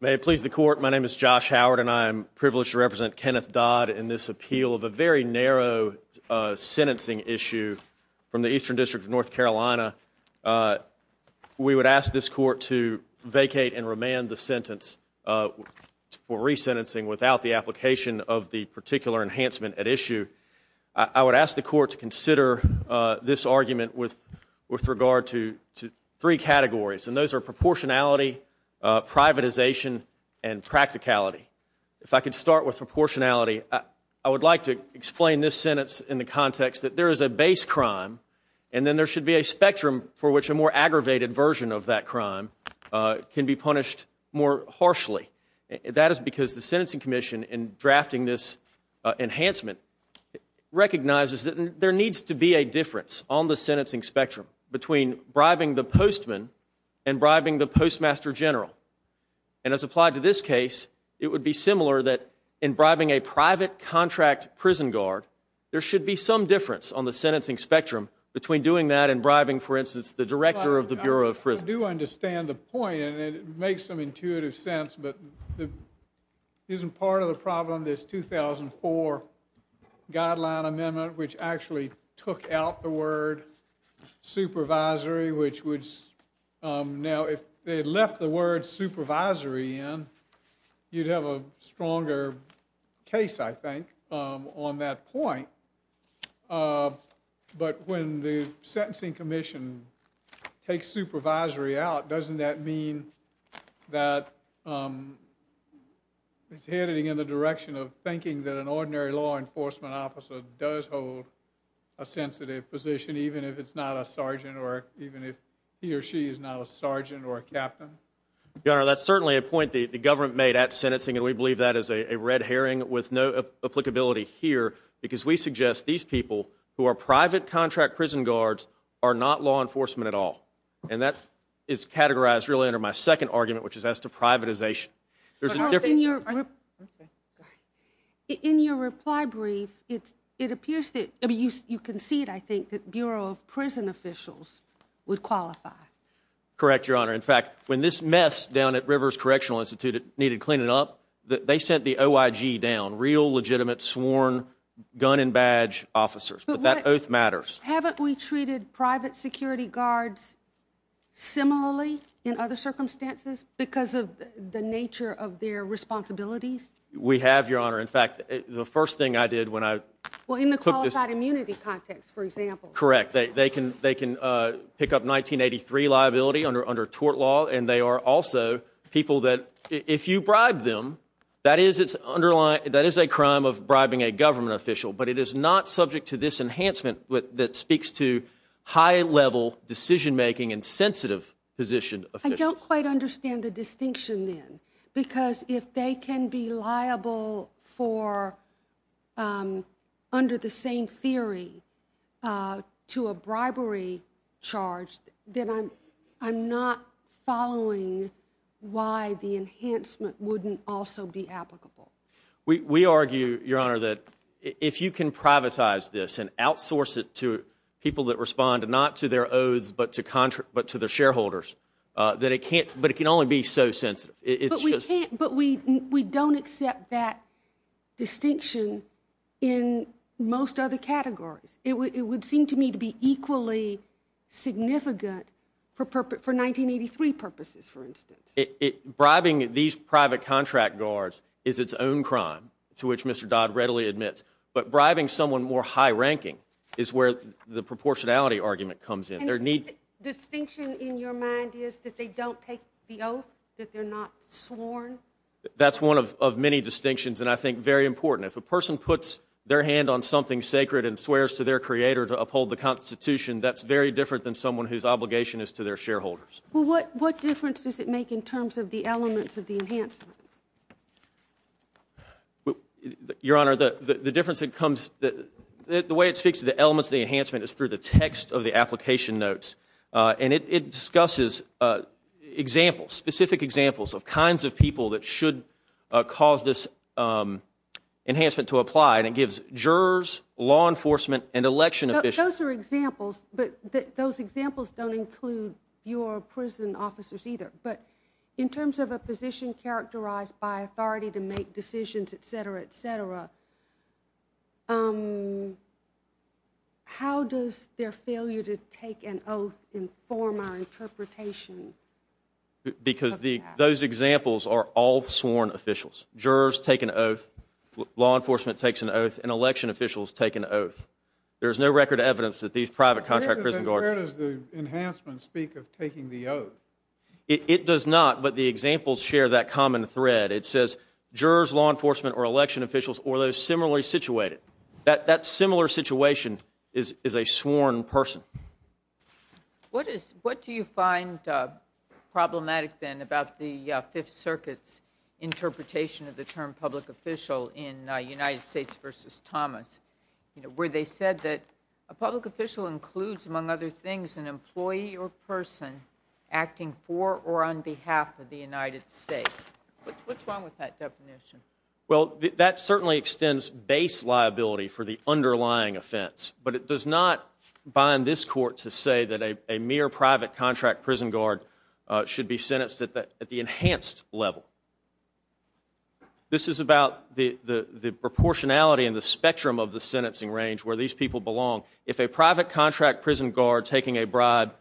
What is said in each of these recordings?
May it please the Court, my name is Josh Howard and I am privileged to represent Kenneth Dodd in this appeal of a very narrow sentencing issue from the Eastern District of North Carolina. We would ask this Court to vacate and remand the sentence for resentencing without the I would ask the Court to consider this argument with regard to three categories and those are proportionality, privatization, and practicality. If I could start with proportionality, I would like to explain this sentence in the context that there is a base crime and then there should be a spectrum for which a more aggravated version of that crime can be punished more harshly. That is because the Sentencing Commission in drafting this enhancement recognizes that there needs to be a difference on the sentencing spectrum between bribing the postman and bribing the postmaster general. And as applied to this case, it would be similar that in bribing a private contract prison guard, there should be some difference on the sentencing spectrum between doing that and bribing, for instance, the director of the Bureau of Prisons. I do understand the point and it makes some intuitive sense, but isn't part of the problem this 2004 guideline amendment which actually took out the word supervisory, which would now, if they had left the word supervisory in, you'd have a stronger case, I think, on that point. But when the Sentencing Commission takes supervisory out, doesn't that mean that it's heading in the direction of thinking that an ordinary law enforcement officer does hold a sensitive position even if it's not a sergeant or even if he or she is not a sergeant or a captain? Your Honor, that's certainly a point the government made at sentencing and we believe that is these people who are private contract prison guards are not law enforcement at all. And that is categorized really under my second argument, which is as to privatization. In your reply brief, it appears that, you concede, I think, that Bureau of Prison Officials would qualify. Correct, Your Honor. In fact, when this mess down at Rivers Correctional Institute needed cleaning up, they sent the But haven't we treated private security guards similarly in other circumstances because of the nature of their responsibilities? We have, Your Honor. In fact, the first thing I did when I took this Well, in the qualified immunity context, for example. Correct. They can pick up 1983 liability under tort law and they are also people that if you bribe them, that is a crime of bribing a government official. But it is not subject to this enhancement that speaks to high-level decision-making and sensitive position officials. I don't quite understand the distinction then. Because if they can be liable under the same theory to a bribery charge, then I'm not following why the enhancement wouldn't also be applicable. We argue, Your Honor, that if you can privatize this and outsource it to people that respond not to their oaths but to their shareholders, that it can't, but it can only be so sensitive. But we don't accept that distinction in most other categories. It would seem to me to be equally significant for 1983 purposes, for instance. Bribing these private contract guards is its own crime, to which Mr. Dodd readily admits. But bribing someone more high-ranking is where the proportionality argument comes in. And the distinction in your mind is that they don't take the oath, that they're not sworn? That's one of many distinctions and I think very important. If a person puts their hand on something sacred and swears to their creator to uphold the Constitution, that's very different than someone whose obligation is to their shareholders. What difference does it make in terms of the elements of the enhancement? Your Honor, the difference that comes, the way it speaks to the elements of the enhancement is through the text of the application notes. And it discusses examples, specific examples of kinds of people that should cause this enhancement to apply. And it gives jurors, law enforcement, and election officials. Those are examples, but those examples don't include your prison officers either. But in terms of a position characterized by authority to make decisions, etc., etc., how does their failure to take an oath inform our interpretation of that? Because those examples are all sworn officials. Jurors take an oath, law enforcement takes an oath, and election officials take an oath. There's no record of evidence that these private contract prison guards... Where does the enhancement speak of taking the oath? It does not, but the examples share that common thread. It says jurors, law enforcement, or election officials, or those similarly situated. That similar situation is a sworn person. What do you find problematic, then, about the Fifth Circuit's interpretation of the term public official in United States v. Thomas, where they said that a public official includes, among other things, an employee or person acting for or on behalf of the United States? What's wrong with that definition? Well, that certainly extends base liability for the underlying offense, but it does not bind this court to say that a mere private contract prison guard should be sentenced at the enhanced level. This is about the proportionality and the spectrum of the sentencing range where these people belong. If a private contract prison guard taking a bribe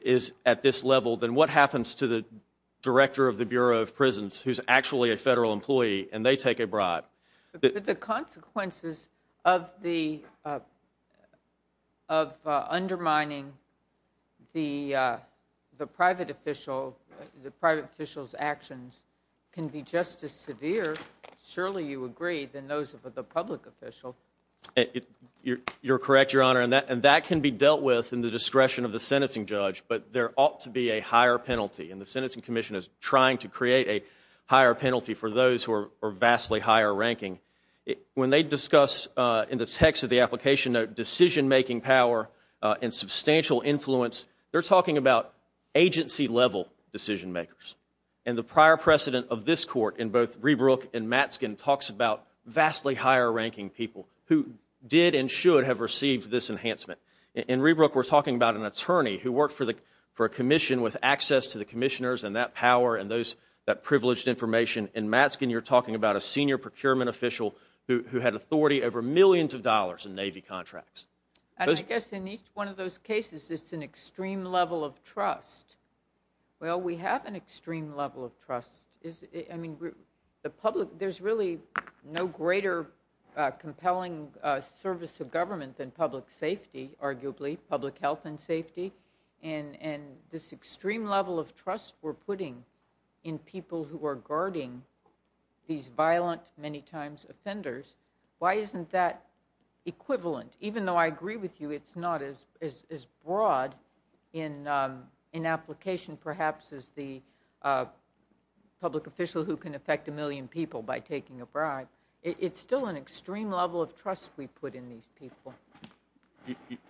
is at this level, then what happens to the director of the Bureau of Prisons, who's actually a federal employee, and they take a bribe? The consequences of undermining the private official's actions can be just as severe, surely you agree, than those of the public official. You're correct, Your Honor, and that can be dealt with in the discretion of the sentencing And the sentencing commission is trying to create a higher penalty for those who are vastly higher ranking. When they discuss in the text of the application a decision-making power and substantial influence, they're talking about agency-level decision-makers. And the prior precedent of this court in both Rebrook and Matzkin talks about vastly higher ranking people who did and should have received this enhancement. In Rebrook, we're talking about an attorney who worked for a commission with access to the commissioners and that power and that privileged information. In Matzkin, you're talking about a senior procurement official who had authority over millions of dollars in Navy contracts. And I guess in each one of those cases, it's an extreme level of trust. Well, we have an extreme level of trust. There's really no greater compelling service of government than public safety, arguably, public health and safety, and this extreme level of trust we're putting in people who are guarding these violent, many times, offenders, why isn't that equivalent? Even though I agree with you, it's not as broad in application, perhaps, as the public official who can affect a million people by taking a bribe. It's still an extreme level of trust we put in these people.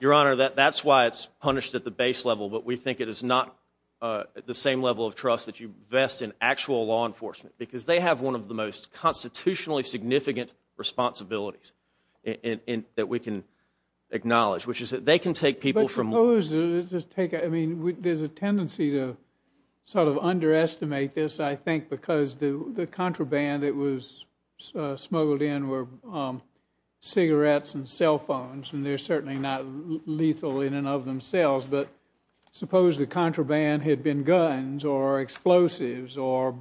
Your Honor, that's why it's punished at the base level, but we think it is not the same level of trust that you vest in actual law enforcement, because they have one of the most constitutionally significant responsibilities that we can acknowledge, which is that they can take people from- But suppose, there's a tendency to sort of underestimate this, I think, because the contraband that was smuggled in were cigarettes and cell phones, and they're certainly not lethal in and of themselves, but suppose the contraband had been guns or explosives or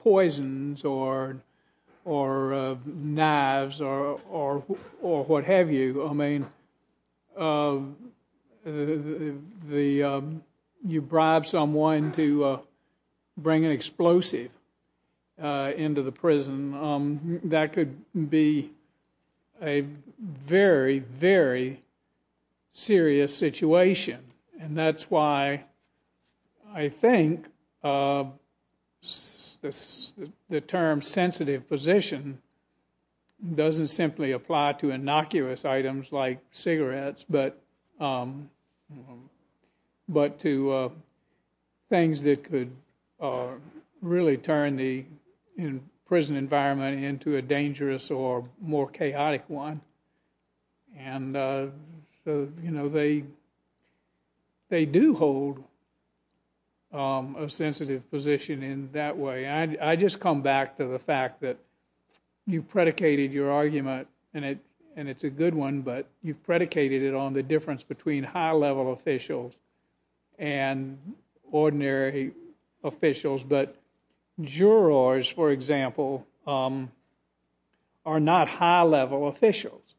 poisons or or knives or what have you, I mean, you bribe someone to bring an explosive into the prison, that could be a very, very serious situation. And that's why I think the term sensitive position doesn't simply apply to innocuous items like cigarettes, but to things that could really turn the prison environment into a dangerous or more chaotic one, and so, you know, they do hold a sensitive position in that way. I just come back to the fact that you predicated your argument, and it's a good one, but you predicated it on the difference between high-level officials and ordinary officials, but jurors, for example, are not high-level officials.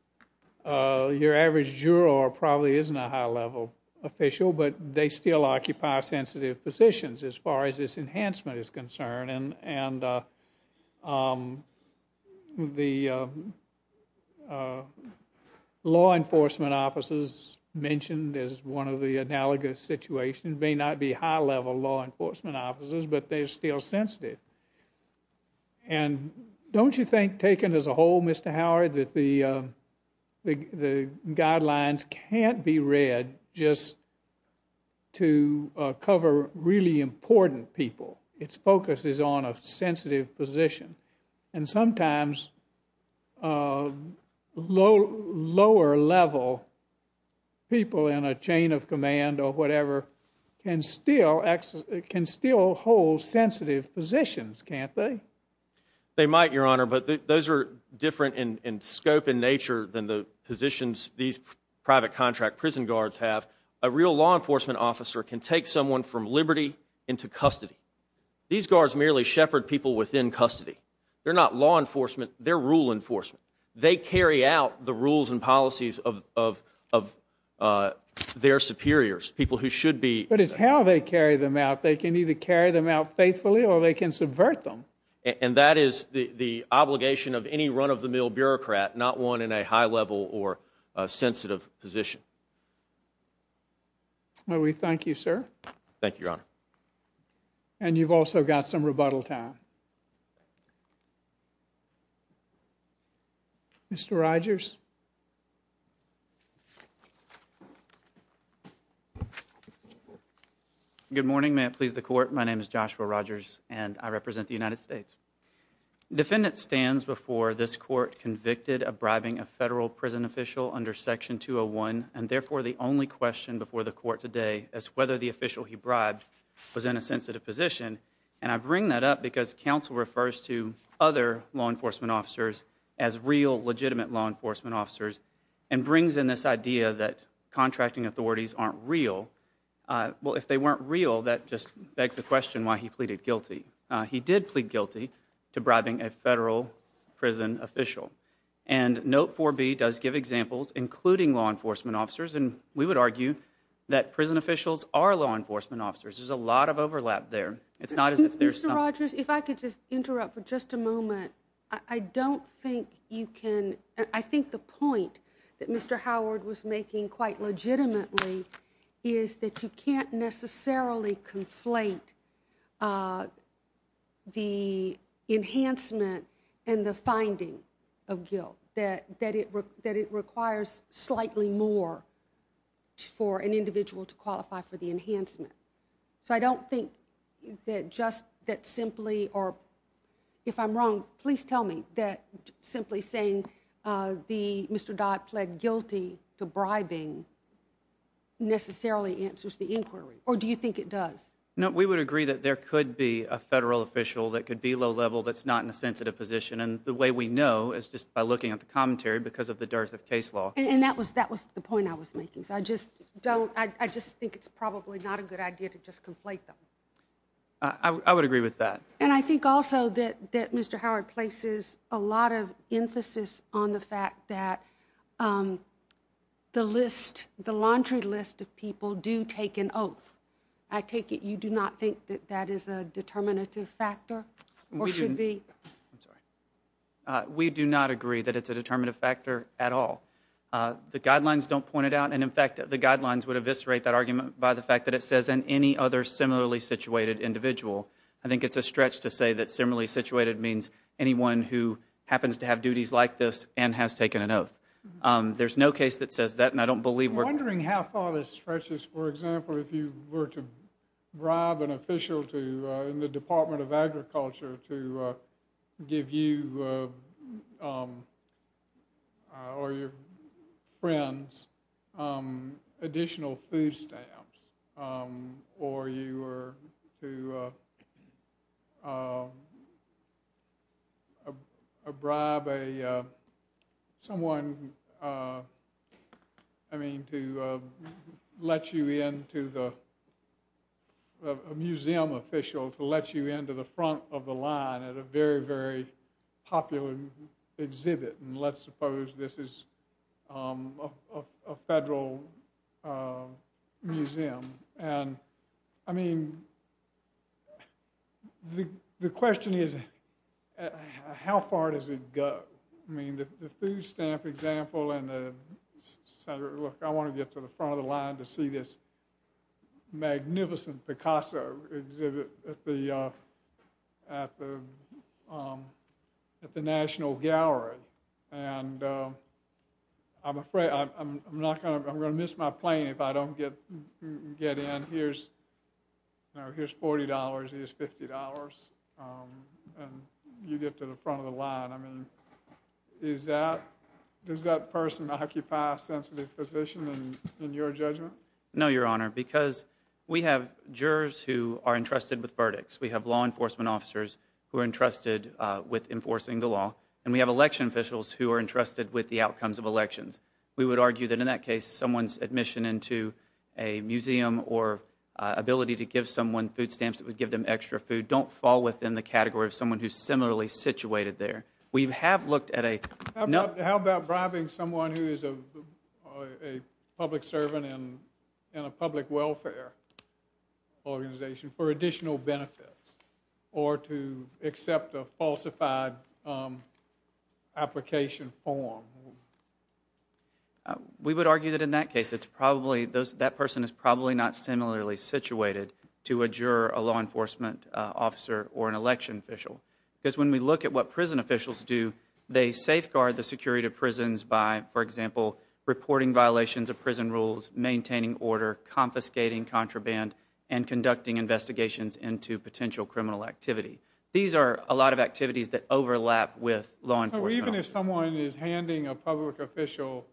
Your average juror probably isn't a high-level official, but they still occupy sensitive positions as far as this enhancement is concerned, and the law enforcement officers mentioned as one of the analogous situations may not be high-level law enforcement officers, but they're still sensitive. And don't you think, taken as a whole, Mr. Howard, that the guidelines can't be read just to cover really important people? Its focus is on a sensitive position, and sometimes lower-level people in a chain of sensitive positions, can't they? They might, Your Honor, but those are different in scope and nature than the positions these private contract prison guards have. A real law enforcement officer can take someone from liberty into custody. These guards merely shepherd people within custody. They're not law enforcement, they're rule enforcement. They carry out the rules and policies of their superiors, people who should be. But it's how they carry them out. They can either carry them out faithfully or they can subvert them. And that is the obligation of any run-of-the-mill bureaucrat, not one in a high-level or sensitive position. Well, we thank you, sir. Thank you, Your Honor. And you've also got some rebuttal time. Mr. Rogers? Good morning. May it please the Court. My name is Joshua Rogers, and I represent the United States. Defendant stands before this Court convicted of bribing a federal prison official under Section 201, and therefore the only question before the Court today is whether the official he bribed was in a sensitive position. And I bring that up because counsel refers to other law enforcement officers as real, legitimate law enforcement officers, and brings in this idea that contracting authorities aren't real. Well, if they weren't real, that just begs the question why he pleaded guilty. He did plead guilty to bribing a federal prison official. And Note 4B does give examples, including law enforcement officers, and we would argue that prison officials are law enforcement officers. There's a lot of overlap there. It's not as if there's some— Mr. Rogers, if I could just interrupt for just a moment, I don't think you can—I think the point that Mr. Howard was making quite legitimately is that you can't necessarily conflate the enhancement and the finding of guilt, that it requires slightly more for an individual to qualify for the enhancement. So I don't think that just—that simply—or if I'm wrong, please tell me—that simply saying Mr. Dodd pleaded guilty to bribing necessarily answers the inquiry, or do you think it does? No, we would agree that there could be a federal official that could be low-level that's not in a sensitive position, and the way we know is just by looking at the commentary because of the dearth of case law. And that was the point I was making, so I just don't—I just think it's probably not a good idea to just conflate them. I would agree with that. And I think also that Mr. Howard places a lot of emphasis on the fact that the list, the laundry list of people do take an oath. I take it you do not think that that is a determinative factor, or should be? We do not agree that it's a determinative factor at all. The guidelines don't point it out, and in fact, the guidelines would eviscerate that fact that it says, and any other similarly situated individual. I think it's a stretch to say that similarly situated means anyone who happens to have duties like this and has taken an oath. There's no case that says that, and I don't believe we're— I'm wondering how far the stretch is, for example, if you were to bribe an official to—in the Department of Agriculture—to give you or your friends additional food stamps, or you were to bribe a—someone, I mean, to let you into the—a museum official to let you into the front of the line at a very, very popular exhibit, and let's suppose this is a federal museum, and, I mean, the question is, how far does it go? I mean, the food stamp example and the—Senator, look, I want to get to the front of the line to see this magnificent Picasso exhibit at the National Gallery, and I'm afraid—I'm not going to—I'm going to miss my plane if I don't get in. Here's $40, here's $50, and you get to the front of the line. I mean, is that—does that person occupy a sensitive position in your judgment? No, Your Honor, because we have jurors who are entrusted with verdicts. We have law enforcement officers who are entrusted with enforcing the law, and we have election officials who are entrusted with the outcomes of elections. We would argue that in that case, someone's admission into a museum or ability to give someone food stamps that would give them extra food don't fall within the category of someone who's similarly situated there. We have looked at a— How about bribing someone who is a public servant in a public welfare organization for additional benefits or to accept a falsified application form? We would argue that in that case, it's probably—that person is probably not similarly situated to a juror, a law enforcement officer, or an election official, because when we look at what prison officials do, they safeguard the security of prisons by, for example, reporting violations of prison rules, maintaining order, confiscating contraband, and conducting investigations into potential criminal activity. These are a lot of activities that overlap with law enforcement. But even if someone is handing a public official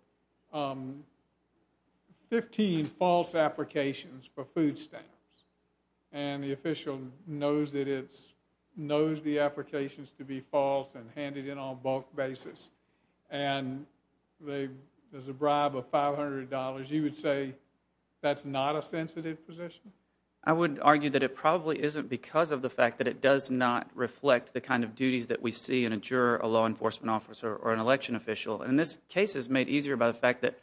15 false applications for food stamps, and the official knows that it's—knows the applications to be false and handed in on a bulk basis, and there's a bribe of $500, you would say that's not a sensitive position? I would argue that it probably isn't because of the fact that it does not reflect the kind or an election official. And this case is made easier by the fact that,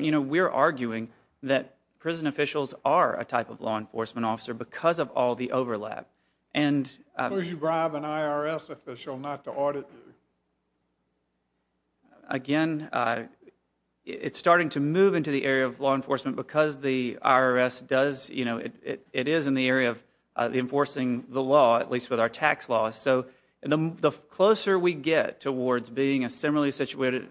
you know, we're arguing that prison officials are a type of law enforcement officer because of all the overlap. And— Would you bribe an IRS official not to audit you? Again, it's starting to move into the area of law enforcement because the IRS does, you know—it is in the area of enforcing the law, at least with our tax laws. So the closer we get towards being a similarly situated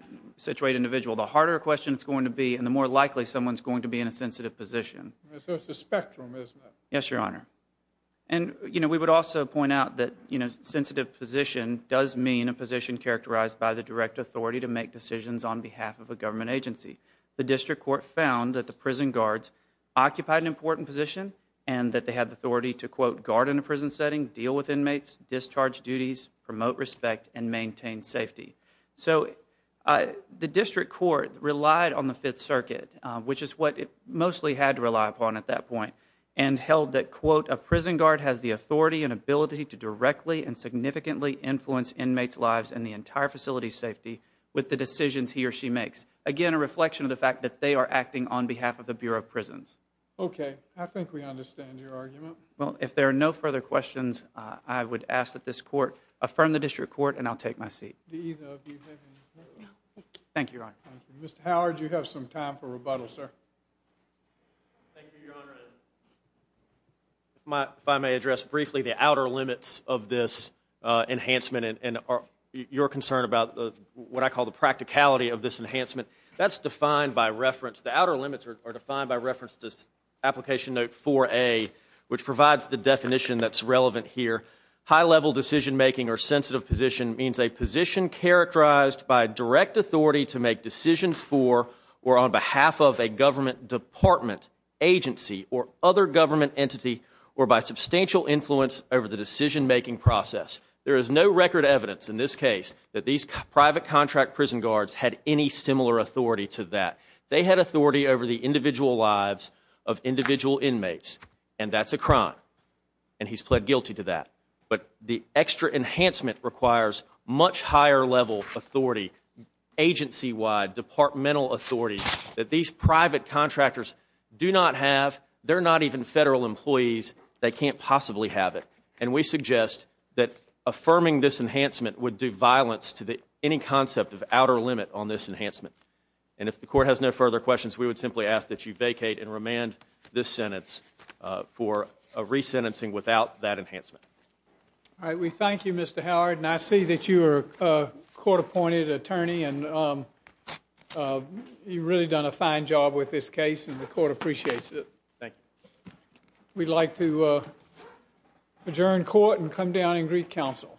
individual, the harder a question it's going to be and the more likely someone's going to be in a sensitive position. So it's a spectrum, isn't it? Yes, Your Honor. And, you know, we would also point out that, you know, sensitive position does mean a position characterized by the direct authority to make decisions on behalf of a government agency. The district court found that the prison guards occupied an important position and that they had the authority to, quote, guard in a prison setting, deal with inmates, discharge duties, promote respect, and maintain safety. So the district court relied on the Fifth Circuit, which is what it mostly had to rely upon at that point, and held that, quote, a prison guard has the authority and ability to directly and significantly influence inmates' lives and the entire facility's safety with the decisions he or she makes. Again, a reflection of the fact that they are acting on behalf of the Bureau of Prisons. Okay. Okay. I think we understand your argument. Well, if there are no further questions, I would ask that this court affirm the district court and I'll take my seat. Thank you, Your Honor. Thank you. Mr. Howard, you have some time for rebuttal, sir. Thank you, Your Honor. If I may address briefly the outer limits of this enhancement and your concern about what I call the practicality of this enhancement, that's defined by reference, the outer limits are defined by reference to application note 4A, which provides the definition that's relevant here. High-level decision-making or sensitive position means a position characterized by direct authority to make decisions for or on behalf of a government department, agency, or other government entity, or by substantial influence over the decision-making process. There is no record evidence in this case that these private contract prison guards had any similar authority to that. They had authority over the individual lives of individual inmates, and that's a crime. And he's pled guilty to that. But the extra enhancement requires much higher-level authority, agency-wide, departmental authority, that these private contractors do not have. They're not even federal employees. They can't possibly have it. And we suggest that affirming this enhancement would do violence to any concept of outer limit on this enhancement. And if the court has no further questions, we would simply ask that you vacate and remand this sentence for a re-sentencing without that enhancement. All right. We thank you, Mr. Howard, and I see that you are a court-appointed attorney, and you've really done a fine job with this case, and the court appreciates it. Thank you. We'd like to adjourn court and come down and greet counsel.